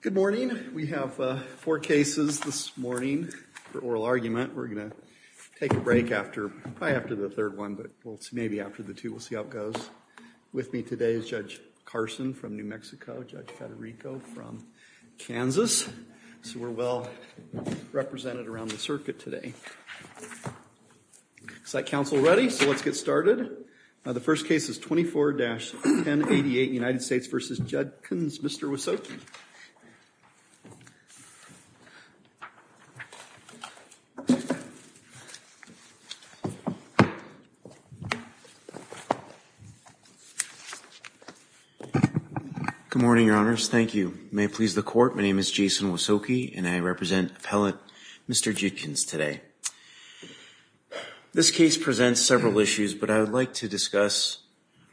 Good morning. We have four cases this morning for oral argument. We're going to take a break after, probably after the third one, but maybe after the two. We'll see how it goes. With me today is Judge Carson from New Mexico, Judge Federico from Kansas. So we're well represented around the circuit today. Is that council ready? So let's get started. The first case is 24-1088 United States v. Judkins. Mr. Wysoki. Good morning, Your Honors. Thank you. May it please the court, my name is Jason Wysoki and I represent appellate Mr. Judkins today. This case presents several issues, but I would like to discuss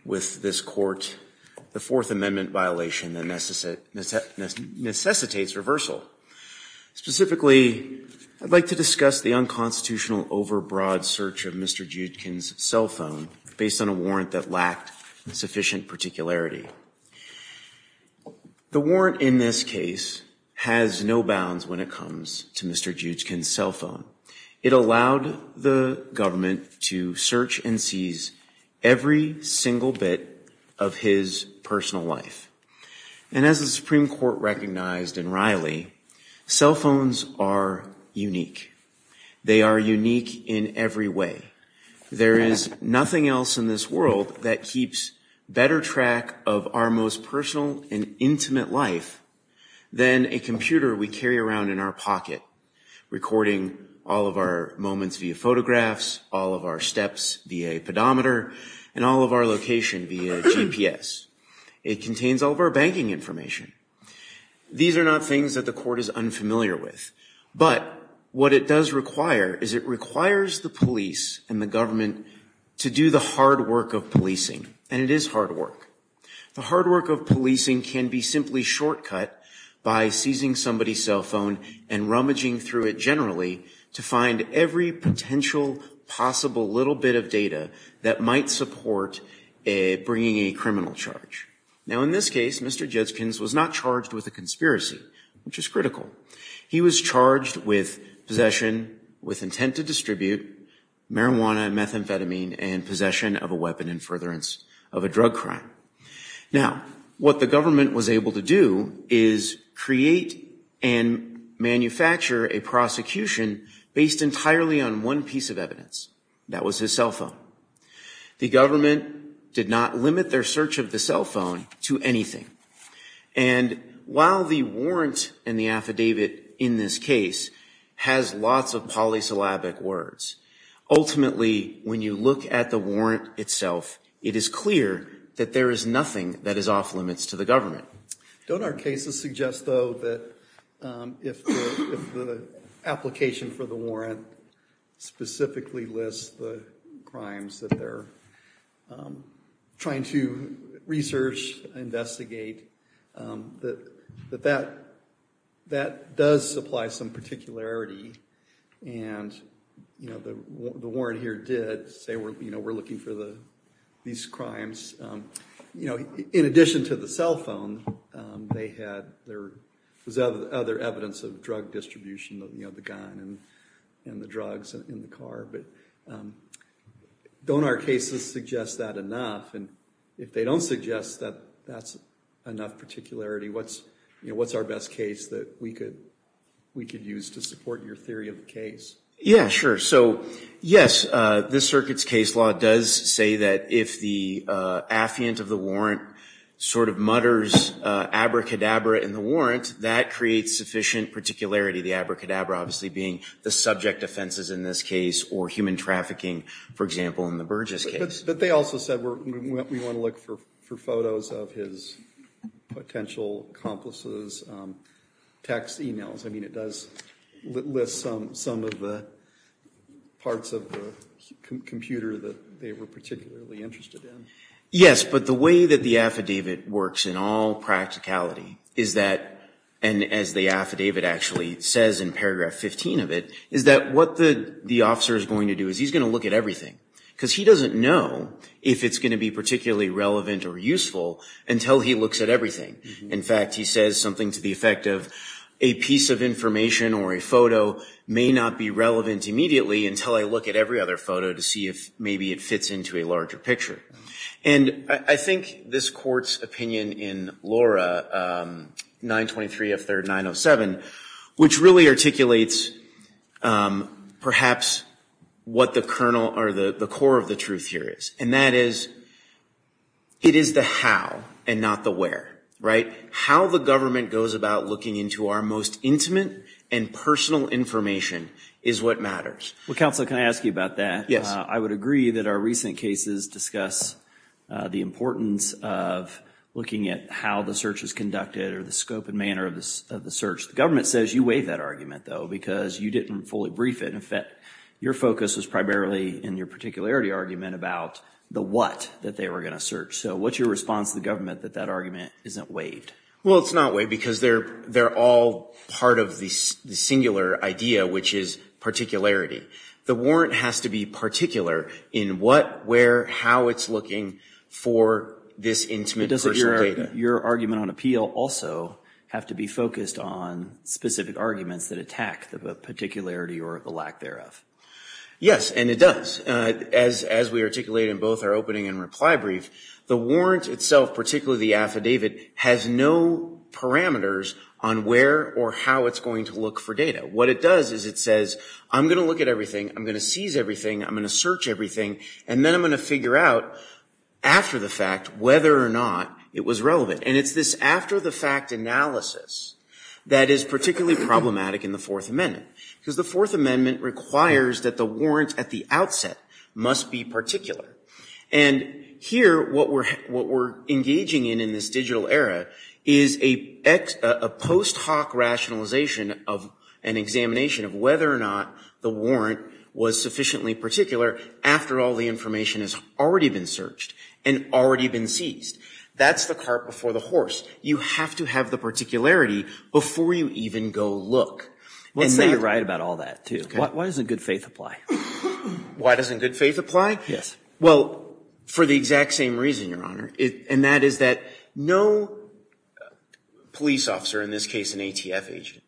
with this court the Fourth Amendment violation that necessitates reversal. Specifically, I'd like to discuss the unconstitutional overbroad search of Mr. Judkins' cell phone based on a warrant that lacked sufficient particularity. The warrant in this case has no bounds when it comes to Mr. Judkins' cell phone. It allowed the government to search and seize every single bit of his personal life. And as the Supreme Court recognized in Riley, cell phones are unique. They are unique in every way. There is nothing else in this world that keeps better track of our most personal and intimate life than a computer we carry around in our pocket recording all of our moments via photographs, all of our steps via a pedometer, and all of our location via GPS. It contains all of our banking information. These are not things that the court is unfamiliar with, but what it does require is it requires the police and the government to do the hard work of policing, and it is hard work. The hard work of policing can be simply shortcut by seizing somebody's cell phone and rummaging through it generally to find every potential possible little bit of data that might support bringing a criminal charge. Now, in this case, Mr. Judkins was not charged with a conspiracy, which is critical. He was charged with possession with intent to distribute marijuana and methamphetamine and possession of a weapon in furtherance of a drug crime. Now, what the government was able to do is create and manufacture a prosecution based entirely on one piece of evidence. That was his cell phone. The government did not limit their search of the cell phone to anything. And while the warrant and the affidavit in this case has lots of polysyllabic words, ultimately, when you look at the warrant itself, it is clear that there is nothing that is off limits to the government. Don't our cases suggest, though, that if the application for the warrant specifically lists the crimes that they're trying to research, investigate, that that does supply some particularity? And the warrant here did say, we're looking for these crimes. In addition to the cell phone, there was other evidence of drug distribution, the gun and the drugs in the car. But don't our cases suggest that enough? And if they don't suggest that that's enough particularity, what's our best case that we could use to support your theory of the case? Yeah, sure. So, yes, this circuit's case law does say that if the affiant of the warrant sort of mutters abracadabra in the warrant, that creates sufficient particularity, the abracadabra obviously being the subject offenses in this case or human trafficking, for example, in the Burgess case. But they also said, we want to look for photos of his potential accomplices, text emails. I mean, it does list some of the parts of the computer that they were particularly interested in. Yes, but the way that the affidavit works in all practicality is that, and as the affidavit actually says in paragraph 15 of it, is that what the officer is going to do is he's going to look at everything because he doesn't know if it's going to be particularly relevant or useful until he looks at everything. In fact, he says something to the effect of, a piece of information or a photo may not be relevant immediately until I look at every other photo to see if maybe it fits into a larger picture. And I think this court's opinion in Laura, 923F3907, which really articulates perhaps what the kernel or the core of the truth here is. And that is, it is the how and not the where, right? How the government goes about looking into our most intimate and personal information is what matters. Well, counsel, can I ask you about that? Yes. I would agree that our recent cases discuss the importance of looking at how the search is conducted or the scope and manner of the search. The government says you waive that argument, though, because you didn't fully brief it. In fact, your focus was primarily in your particularity argument about the what that they were going to search. So what's your response to the government that that argument isn't waived? Well, it's not waived because they're all part of the singular idea, which is particularity. The warrant has to be particular in what, where, how it's looking for this intimate personal data. Does your argument on appeal also have to be focused on specific arguments that attack the particularity or the lack thereof? Yes, and it does. As we articulate in both our opening and reply brief, the warrant itself, particularly the affidavit, has no parameters on where or how it's going to look for data. What it does is it says, I'm going to look at everything, I'm going to seize everything, I'm going to search everything, and then I'm going to figure out after the fact whether or not it was relevant. And it's this after-the-fact analysis that is particularly problematic in the Fourth Amendment, because the Fourth Amendment requires that the warrant at the outset must be particular. And here, what we're engaging in in this digital era is a post hoc rationalization of an examination of whether or not the warrant was sufficiently particular after all the information has already been searched and already been seized. That's the cart before the horse. You have to have the particularity before you even go look. And you're right about all that, too. Why doesn't good faith apply? Why doesn't good faith apply? Yes. Well, for the exact same reason, Your Honor, and that is that no police officer, in this case an ATF agent,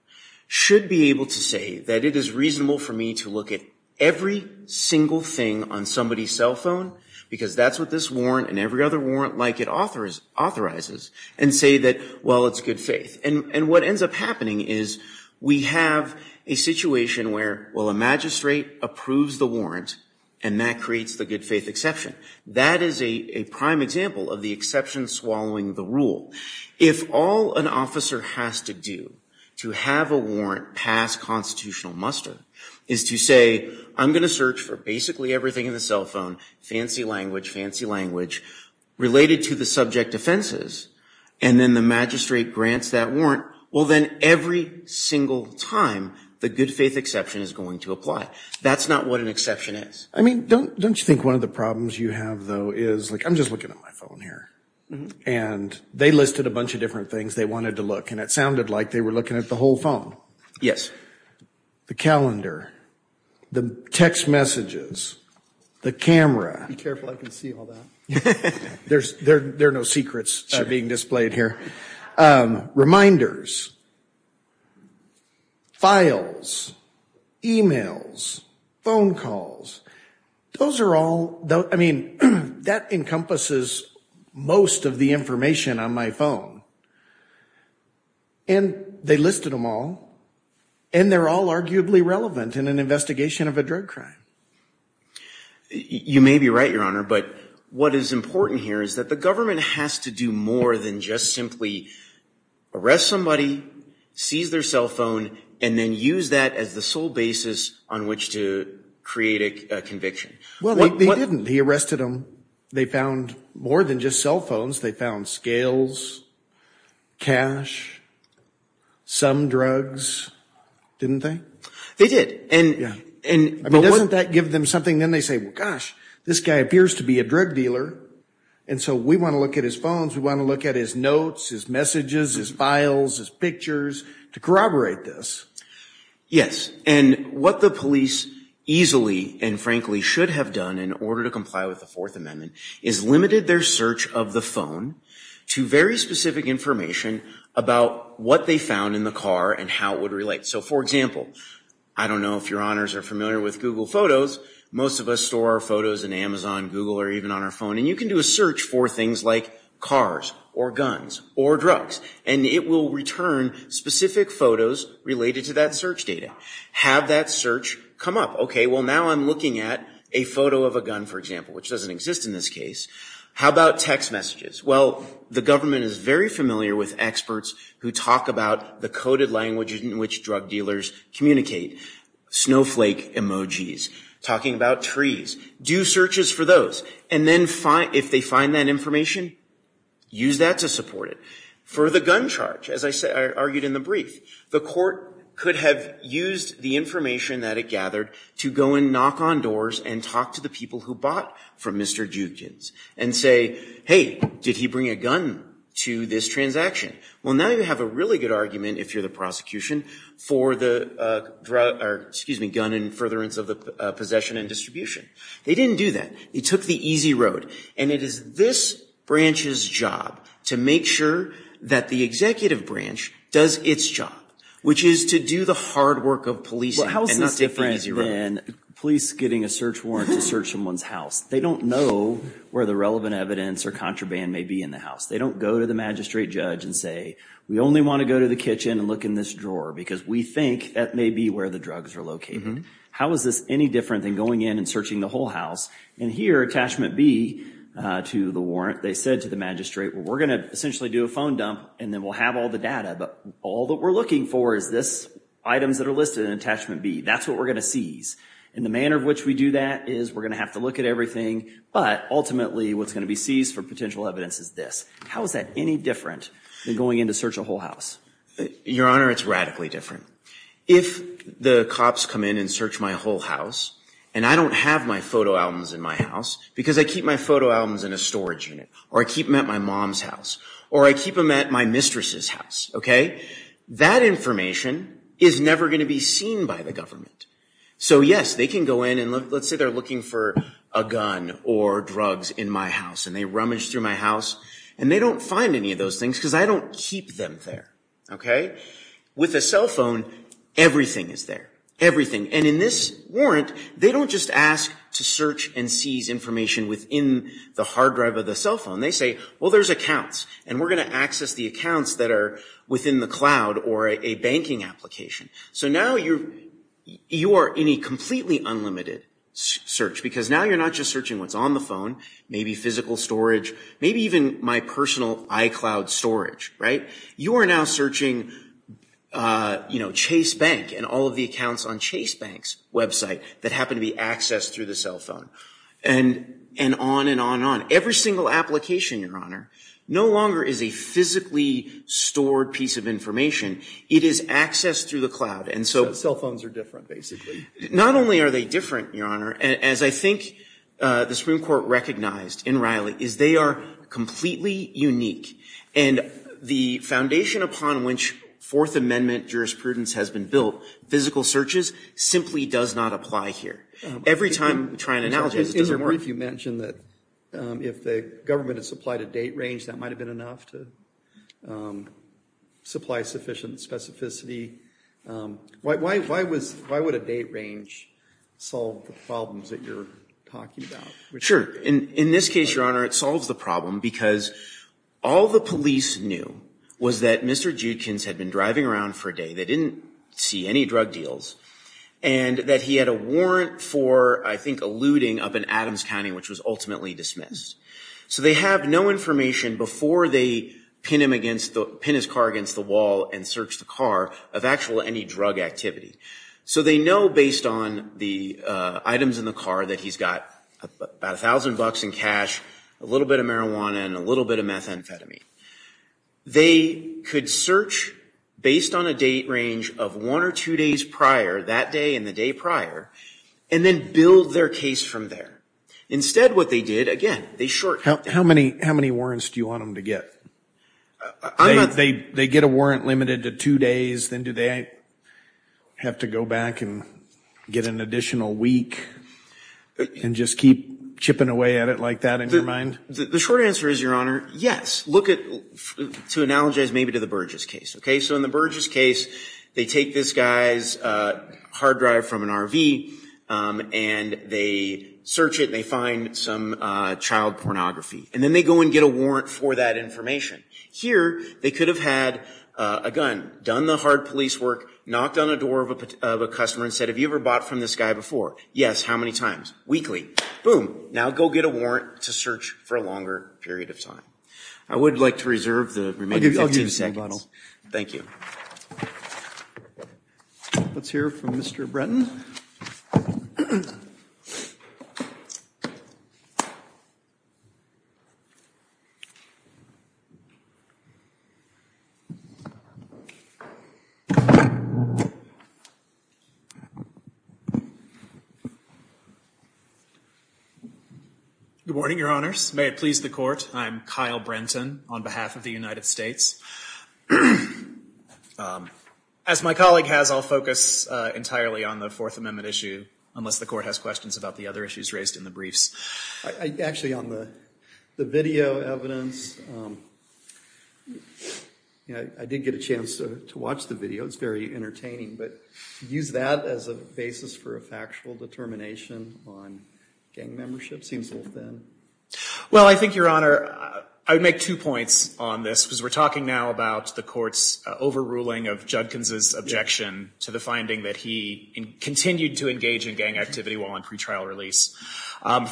should be able to say that it is reasonable for me to look at every single thing on somebody's cell phone, because that's what this warrant and every other warrant like it authorizes, and say that, well, it's good faith. And what ends up happening is we have a situation where, well, a magistrate approves the warrant, and that creates the good faith exception. That is a prime example of the exception swallowing the rule. If all an officer has to do to have a warrant pass constitutional muster is to say, I'm going to search for basically everything in the cell phone, fancy language, fancy language, related to the subject offenses, and then the magistrate grants that warrant, well, then every single time the good faith exception is going to apply. That's not what an exception is. I mean, don't you think one of the problems you have, though, is, like, I'm just looking at my phone here. And they listed a bunch of different things they wanted to look, and it sounded like they were looking at the whole phone. Yes. The calendar, the text messages, the camera. Be careful, I can see all that. There are no secrets being displayed here. Reminders, files, e-mails, phone calls. Those are all, I mean, that encompasses most of the information on my phone. And they listed them all, and they're all arguably relevant in an investigation of a drug crime. You may be right, Your Honor, but what is important here is that the government has to do more than just simply arrest somebody, seize their cell phone, and then use that as the sole basis on which to create a conviction. Well, they didn't. He arrested them. They found more than just cell phones. They found scales, cash, some drugs, didn't they? They did. Doesn't that give them something? Then they say, well, gosh, this guy appears to be a drug dealer, and so we want to look at his phones, we want to look at his notes, his messages, his files, his pictures to corroborate this. Yes. And what the police easily and frankly should have done in order to comply with the Fourth Amendment is limited their search of the phone to very specific information about what they found in the car and how it would relate. So, for example, I don't know if Your Honors are familiar with Google Photos. Most of us store our photos in Amazon, Google, or even on our phone, and you can do a search for things like cars or guns or drugs, and it will return specific photos related to that search data. Have that search come up. Okay, well, now I'm looking at a photo of a gun, for example, which doesn't exist in this case. How about text messages? Well, the government is very familiar with experts who talk about the coded languages in which drug dealers communicate, snowflake emojis, talking about trees. Do searches for those, and then if they find that information, use that to support it. For the gun charge, as I argued in the brief, the court could have used the information that it gathered to go and knock on doors and talk to the people who bought from Mr. Jukins and say, hey, did he bring a gun to this transaction? Well, now you have a really good argument, if you're the prosecution, for the gun and furtherance of the possession and distribution. They didn't do that. They took the easy road, and it is this branch's job to make sure that the executive branch does its job, which is to do the hard work of policing and not take the easy road. Well, how is this different than police getting a search warrant to search someone's house? They don't know where the relevant evidence or contraband may be in the house. They don't go to the magistrate judge and say, we only want to go to the kitchen and look in this drawer, because we think that may be where the drugs are located. How is this any different than going in and searching the whole house? And here, attachment B to the warrant, they said to the magistrate, we're going to essentially do a phone dump, and then we'll have all the data, but all that we're looking for is this items that are listed in attachment B. That's what we're going to seize. And the manner in which we do that is we're going to have to look at everything, but ultimately what's going to be seized for potential evidence is this. How is that any different than going in to search a whole house? Your Honor, it's radically different. If the cops come in and search my whole house, and I don't have my photo albums in my house, because I keep my photo albums in a storage unit, or I keep them at my mom's house, or I keep them at my mistress's house, okay, that information is never going to be seen by the government. So, yes, they can go in, and let's say they're looking for a gun or drugs in my house, and they rummage through my house, and they don't find any of those things because I don't keep them there, okay? With a cell phone, everything is there, everything. And in this warrant, they don't just ask to search and seize information within the hard drive of the cell phone. They say, well, there's accounts, and we're going to access the accounts that are within the cloud or a banking application. So now you are in a completely unlimited search, because now you're not just searching what's on the phone, maybe physical storage, maybe even my personal iCloud storage, right? You are now searching, you know, Chase Bank and all of the accounts on Chase Bank's website that happen to be accessed through the cell phone, and on and on and on. Every single application, Your Honor, no longer is a physically stored piece of information. It is accessed through the cloud. Cell phones are different, basically. Not only are they different, Your Honor, as I think the Supreme Court recognized in Riley, is they are completely unique. And the foundation upon which Fourth Amendment jurisprudence has been built, physical searches, simply does not apply here. Every time we try and analogize it doesn't work. I'm wondering if you mentioned that if the government had supplied a date range, that might have been enough to supply sufficient specificity. Why would a date range solve the problems that you're talking about? Sure. In this case, Your Honor, it solves the problem, because all the police knew was that Mr. Judkins had been driving around for a day. They didn't see any drug deals. And that he had a warrant for, I think, a looting up in Adams County, which was ultimately dismissed. So they have no information before they pin his car against the wall and search the car of actual any drug activity. So they know based on the items in the car that he's got about a thousand bucks in cash, a little bit of marijuana, and a little bit of methamphetamine. They could search based on a date range of one or two days prior, that day and the day prior, and then build their case from there. Instead, what they did, again, they short that. How many warrants do you want them to get? They get a warrant limited to two days, then do they have to go back and get an additional week and just keep chipping away at it like that in your mind? The short answer is, Your Honor, yes. To analogize maybe to the Burgess case. So in the Burgess case, they take this guy's hard drive from an RV, and they search it, and they find some child pornography. And then they go and get a warrant for that information. Here, they could have had a gun, done the hard police work, knocked on the door of a customer and said, have you ever bought from this guy before? Yes. How many times? Weekly. Boom. Now go get a warrant to search for a longer period of time. I would like to reserve the remaining 15 seconds. Thank you. Let's hear from Mr. Brenton. Good morning, Your Honors. May it please the Court, I'm Kyle Brenton on behalf of the United States. As my colleague has, I'll focus entirely on the Fourth Amendment issue, unless the Court has questions about the other issues raised in the briefs. Actually, on the video evidence, I did get a chance to watch the video. It's very entertaining. But to use that as a basis for a factual determination on gang membership seems a little thin. Well, I think, Your Honor, I would make two points on this. Because we're talking now about the Court's overruling of Judkins' objection to the finding that he continued to engage in gang activity while on pretrial release.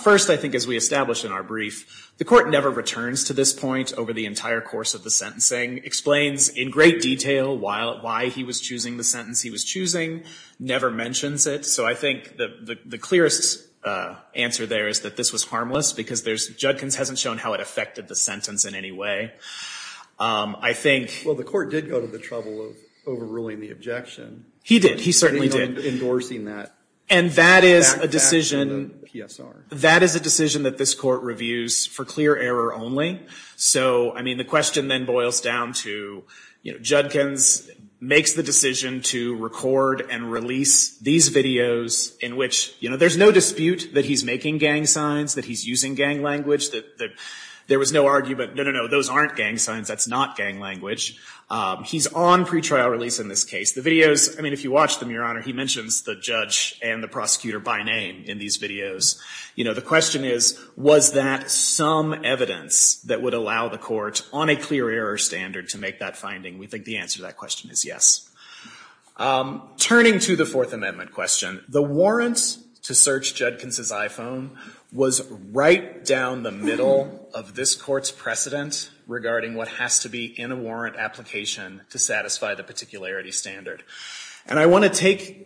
First, I think, as we established in our brief, the Court never returns to this point over the entire course of the sentencing. Explains in great detail why he was choosing the sentence he was choosing, never mentions it. So I think the clearest answer there is that this was harmless because Judkins hasn't shown how it affected the sentence in any way. I think— Well, the Court did go to the trouble of overruling the objection. He did. He certainly did. Endorsing that. And that is a decision— Back to PSR. That is a decision that this Court reviews for clear error only. So, I mean, the question then boils down to, you know, Judkins makes the decision to record and release these videos in which, you know, there's no dispute that he's making gang signs, that he's using gang language, that there was no argument. No, no, no. Those aren't gang signs. That's not gang language. He's on pretrial release in this case. The videos—I mean, if you watch them, Your Honor, he mentions the judge and the prosecutor by name in these videos. You know, the question is, was that some evidence that would allow the Court on a clear error standard to make that finding? We think the answer to that question is yes. Turning to the Fourth Amendment question, the warrant to search Judkins' iPhone was right down the middle of this Court's precedent regarding what has to be in a warrant application to satisfy the particularity standard. And I want to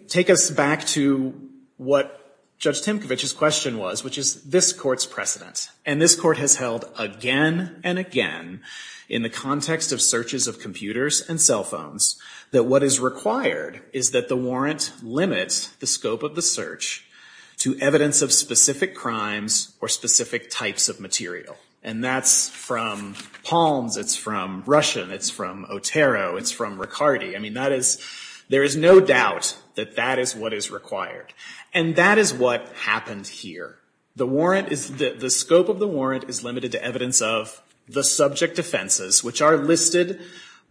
take us back to what Judge Timkovich's question was, which is this Court's precedent. And this Court has held again and again in the context of searches of computers and cell phones that what is required is that the warrant limit the scope of the search to evidence of specific crimes or specific types of material. And that's from Palms. It's from Russian. It's from Otero. It's from Riccardi. I mean, that is—there is no doubt that that is what is required. And that is what happened here. The warrant is—the scope of the warrant is limited to evidence of the subject offenses, which are listed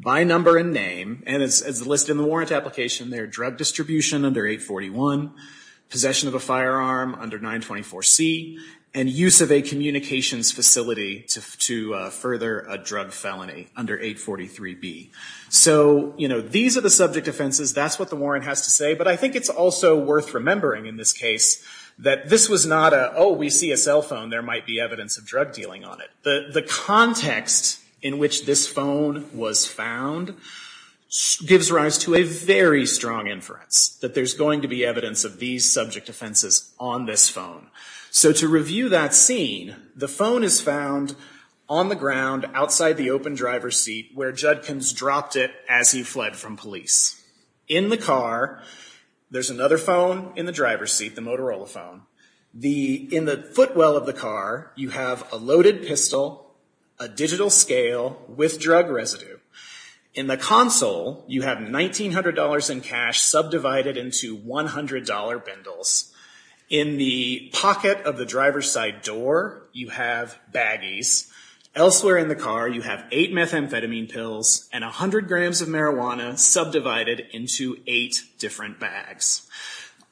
by number and name. And it's listed in the warrant application there, drug distribution under 841, possession of a firearm under 924C, and use of a communications facility to further a drug felony under 843B. So, you know, these are the subject offenses. That's what the warrant has to say. But I think it's also worth remembering in this case that this was not a, oh, we see a cell phone. There might be evidence of drug dealing on it. The context in which this phone was found gives rise to a very strong inference that there's going to be evidence of these subject offenses on this phone. So to review that scene, the phone is found on the ground outside the open driver's seat where Judkins dropped it as he fled from police. In the car, there's another phone in the driver's seat, the Motorola phone. In the footwell of the car, you have a loaded pistol, a digital scale with drug residue. In the console, you have $1,900 in cash subdivided into $100 bundles. In the pocket of the driver's side door, you have baggies. Elsewhere in the car, you have 8 methamphetamine pills and 100 grams of marijuana subdivided into 8 different bags.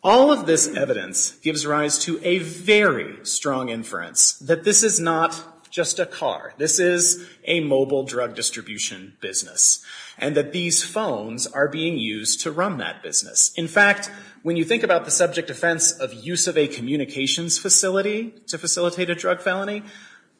All of this evidence gives rise to a very strong inference that this is not just a car. This is a mobile drug distribution business and that these phones are being used to run that business. In fact, when you think about the subject offense of use of a communications facility to facilitate a drug felony,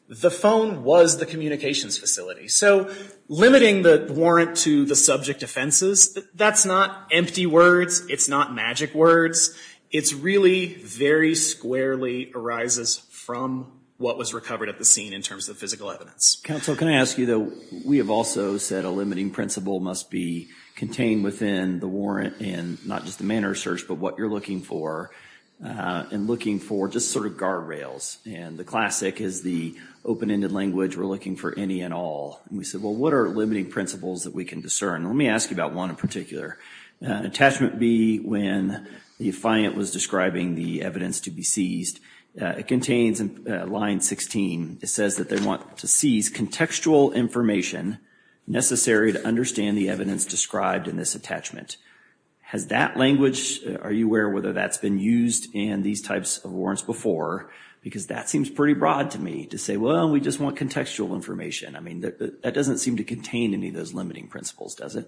the phone was the communications facility. So limiting the warrant to the subject offenses, that's not empty words. It's not magic words. It's really very squarely arises from what was recovered at the scene in terms of physical evidence. Counsel, can I ask you, though? We have also said a limiting principle must be contained within the warrant and not just the manner of search, but what you're looking for. And looking for just sort of guardrails. And the classic is the open-ended language. We're looking for any and all. And we said, well, what are limiting principles that we can discern? Let me ask you about one in particular. Attachment B, when the client was describing the evidence to be seized, it contains in line 16. It says that they want to seize contextual information necessary to understand the evidence described in this attachment. Has that language, are you aware whether that's been used in these types of warrants before? Because that seems pretty broad to me to say, well, we just want contextual information. I mean, that doesn't seem to contain any of those limiting principles, does it?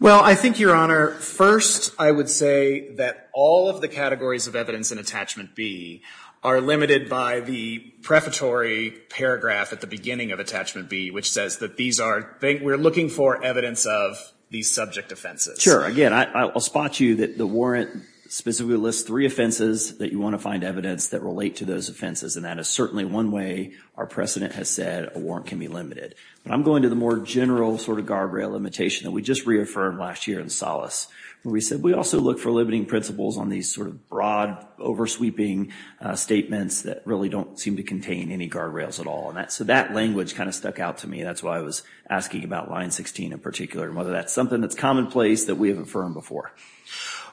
Well, I think, Your Honor, first I would say that all of the categories of evidence in Attachment B are limited by the prefatory paragraph at the beginning of Attachment B, which says that these are, we're looking for evidence of these subject offenses. Sure. Again, I'll spot you that the warrant specifically lists three offenses that you want to find evidence that relate to those offenses. And that is certainly one way our precedent has said a warrant can be limited. But I'm going to the more general sort of guardrail limitation that we just reaffirmed last year in Solace, where we said we also look for limiting principles on these sort of broad, over-sweeping statements that really don't seem to contain any guardrails at all. So that language kind of stuck out to me. That's why I was asking about line 16 in particular and whether that's something that's commonplace that we have affirmed before.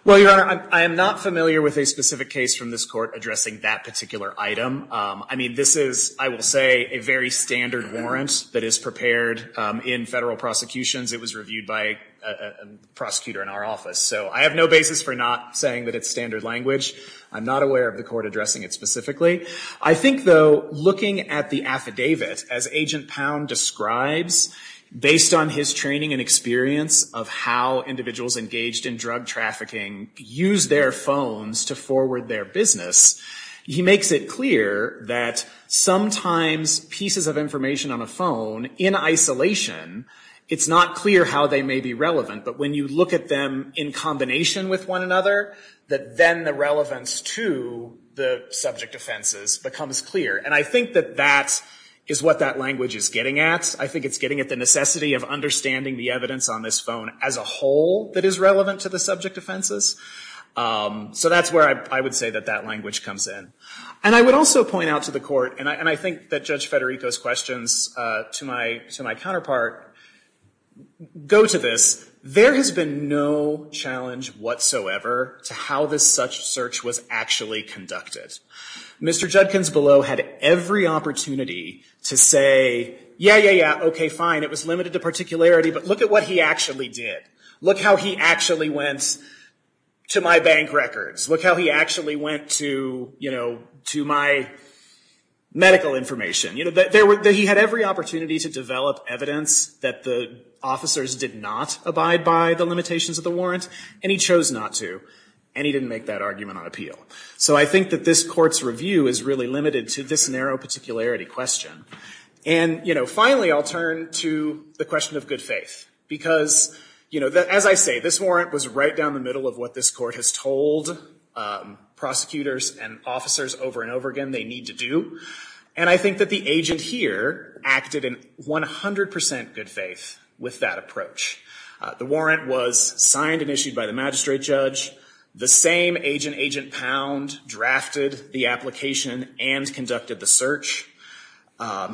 Well, Your Honor, I am not familiar with a specific case from this Court addressing that particular item. I mean, this is, I will say, a very standard warrant that is prepared in federal prosecutions. It was reviewed by a prosecutor in our office. So I have no basis for not saying that it's standard language. I'm not aware of the Court addressing it specifically. I think, though, looking at the affidavit, as Agent Pound describes, based on his training and experience of how individuals engaged in drug trafficking use their phones to forward their business, he makes it clear that sometimes pieces of information on a phone in isolation, it's not clear how they may be relevant. But when you look at them in combination with one another, that then the relevance to the subject offenses becomes clear. And I think that that is what that language is getting at. I think it's getting at the necessity of understanding the evidence on this phone as a whole that is relevant to the subject offenses. So that's where I would say that that language comes in. And I would also point out to the Court, and I think that Judge Federico's questions to my counterpart go to this. There has been no challenge whatsoever to how this such search was actually conducted. Mr. Judkins below had every opportunity to say, yeah, yeah, yeah, okay, fine, it was limited to particularity, but look at what he actually did. Look how he actually went to my bank records. Look how he actually went to my medical information. He had every opportunity to develop evidence that the officers did not abide by the limitations of the warrant, and he chose not to. And he didn't make that argument on appeal. So I think that this Court's review is really limited to this narrow particularity question. And, you know, finally I'll turn to the question of good faith. Because, you know, as I say, this warrant was right down the middle of what this Court has told prosecutors and officers over and over again they need to do. And I think that the agent here acted in 100% good faith with that approach. The warrant was signed and issued by the magistrate judge. The same agent, Agent Pound, drafted the application and conducted the search.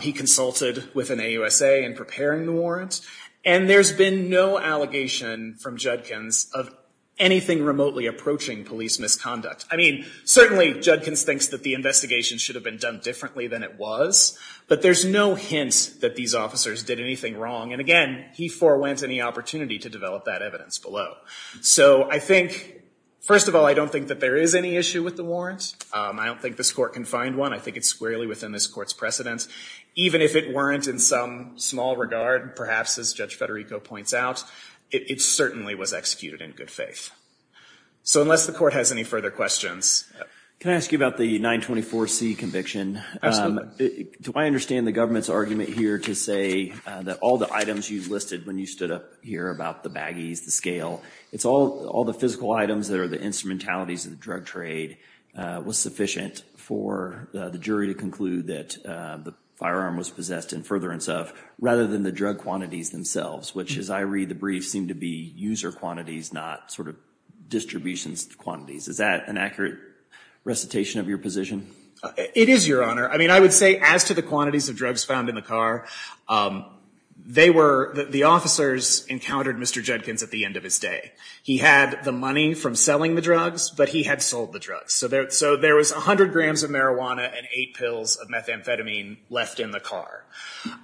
He consulted with an AUSA in preparing the warrant. And there's been no allegation from Judkins of anything remotely approaching police misconduct. I mean, certainly Judkins thinks that the investigation should have been done differently than it was. But there's no hint that these officers did anything wrong. And, again, he forwent any opportunity to develop that evidence below. So I think, first of all, I don't think that there is any issue with the warrant. I don't think this Court can find one. I think it's squarely within this Court's precedent. Even if it weren't in some small regard, perhaps as Judge Federico points out, it certainly was executed in good faith. So unless the Court has any further questions. Can I ask you about the 924C conviction? Do I understand the government's argument here to say that all the items you listed when you stood up here about the baggies, the scale, it's all the physical items that are the instrumentalities of the drug trade was sufficient for the jury to conclude that the firearm was possessed in furtherance of, rather than the drug quantities themselves, which, as I read the brief, seem to be user quantities, not sort of distribution quantities. Is that an accurate recitation of your position? It is, Your Honor. I mean, I would say as to the quantities of drugs found in the car, they were, the officers encountered Mr. Judkins at the end of his day. He had the money from selling the drugs, but he had sold the drugs. So there was 100 grams of marijuana and 8 pills of methamphetamine left in the car.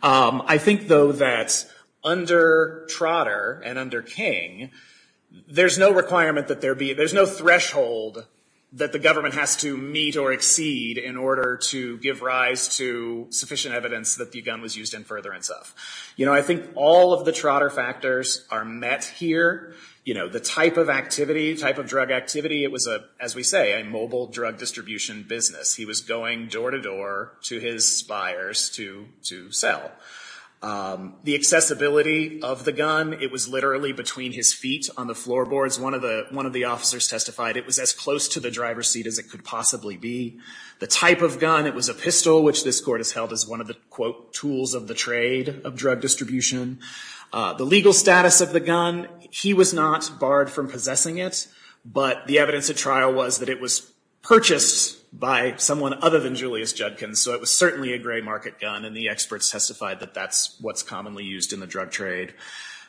I think, though, that under Trotter and under King, there's no requirement that there be, there's no threshold that the government has to meet or exceed in order to give rise to sufficient evidence that the gun was used in furtherance of. You know, I think all of the Trotter factors are met here. You know, the type of activity, type of drug activity, it was, as we say, a mobile drug distribution business. He was going door to door to his buyers to sell. The accessibility of the gun, it was literally between his feet on the floorboards. One of the officers testified it was as close to the driver's seat as it could possibly be. The type of gun, it was a pistol, which this court has held as one of the, quote, tools of the trade of drug distribution. The legal status of the gun, he was not barred from possessing it, but the evidence at trial was that it was purchased by someone other than Julius Judkins. So it was certainly a gray market gun, and the experts testified that that's what's commonly used in the drug trade.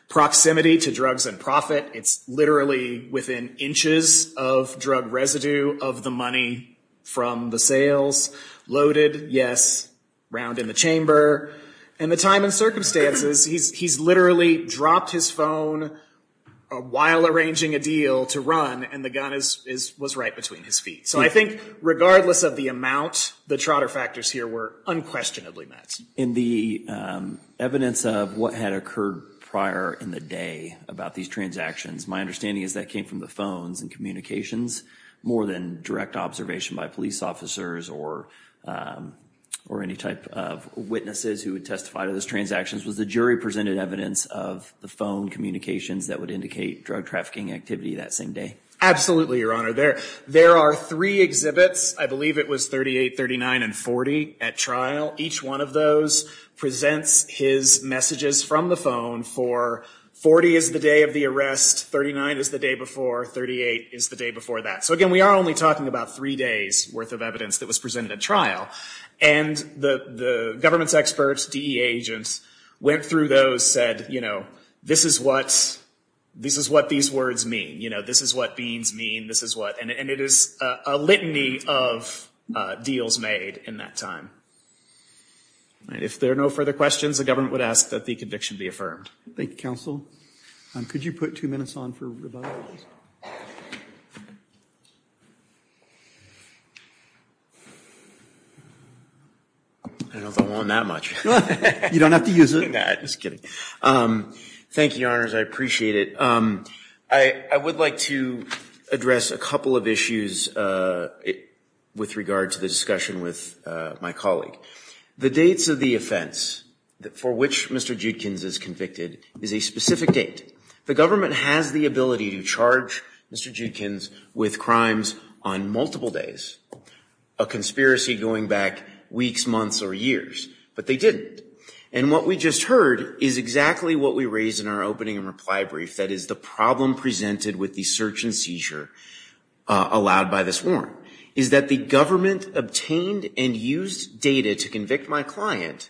Proximity to drugs and profit, it's literally within inches of drug residue of the money from the sales. Loaded, yes, round in the chamber, and the time and circumstances, he's literally dropped his phone while arranging a deal to run, and the gun was right between his feet. So I think regardless of the amount, the Trotter factors here were unquestionably met. In the evidence of what had occurred prior in the day about these transactions, my understanding is that came from the phones and communications more than direct observation by police officers or any type of witnesses who would testify to those transactions. Was the jury presented evidence of the phone communications that would indicate drug trafficking activity that same day? Absolutely, Your Honor. There are three exhibits. I believe it was 38, 39, and 40 at trial. Each one of those presents his messages from the phone for, 40 is the day of the arrest, 39 is the day before, 38 is the day before that. So again, we are only talking about three days' worth of evidence that was presented at trial. And the government's experts, DEA agents, went through those, said, you know, this is what these words mean. You know, this is what beans mean. This is what, and it is a litany of deals made in that time. If there are no further questions, the government would ask that the conviction be affirmed. Thank you, counsel. Could you put two minutes on for rebuttal? I don't want that much. You don't have to use it. Thank you, Your Honors. I appreciate it. I would like to address a couple of issues with regard to the discussion with my colleague. The dates of the offense for which Mr. Judkins is convicted is a specific date. The government has the ability to charge Mr. Judkins with crimes on multiple days, a conspiracy going back weeks, months, or years, but they didn't. And what we just heard is exactly what we raised in our opening reply brief, that is the problem presented with the search and seizure allowed by this warrant, is that the government obtained and used data to convict my client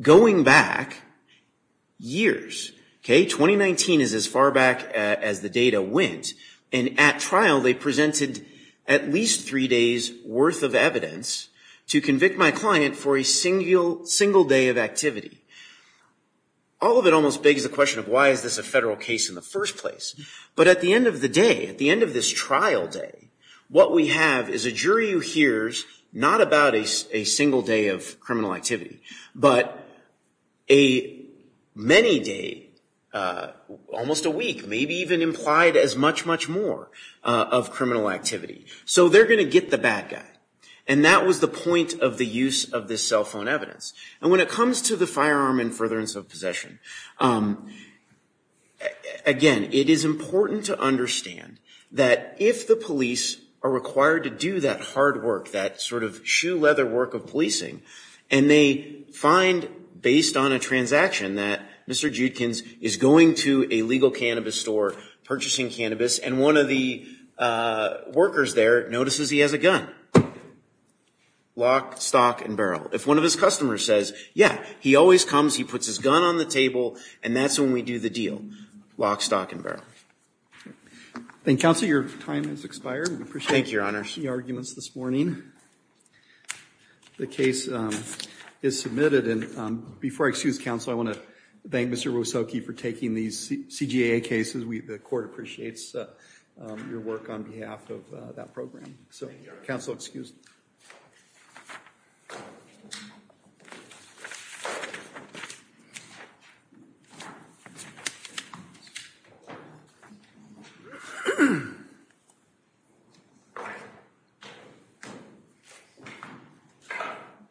going back years. 2019 is as far back as the data went. And at trial, they presented at least three days' worth of evidence to convict my client for a single day of activity. All of it almost begs the question of why is this a federal case in the first place? But at the end of the day, at the end of this trial day, what we have is a jury who hears not about a single day of criminal activity, but a many day, almost a week, maybe even implied as much, much more of criminal activity. So they're going to get the bad guy. And that was the point of the use of this cell phone evidence. And when it comes to the firearm and furtherance of possession, again, it is important to understand that if the police are required to do that hard work, that sort of shoe leather work of policing, and they find, based on a transaction, that Mr. Judkins is going to a legal cannabis store, purchasing cannabis, and one of the workers there notices he has a gun. Lock, stock, and barrel. If one of his customers says, yeah, he always comes, he puts his gun on the table, and that's when we do the deal. Lock, stock, and barrel. Thank you. Counsel, your time has expired. We appreciate it. Thank you, Your Honor. We see arguments this morning. The case is submitted. And before I excuse counsel, I want to thank Mr. Wosocki for taking these CJA cases. The court appreciates your work on behalf of that program. Thank you, Your Honor. Counsel excused.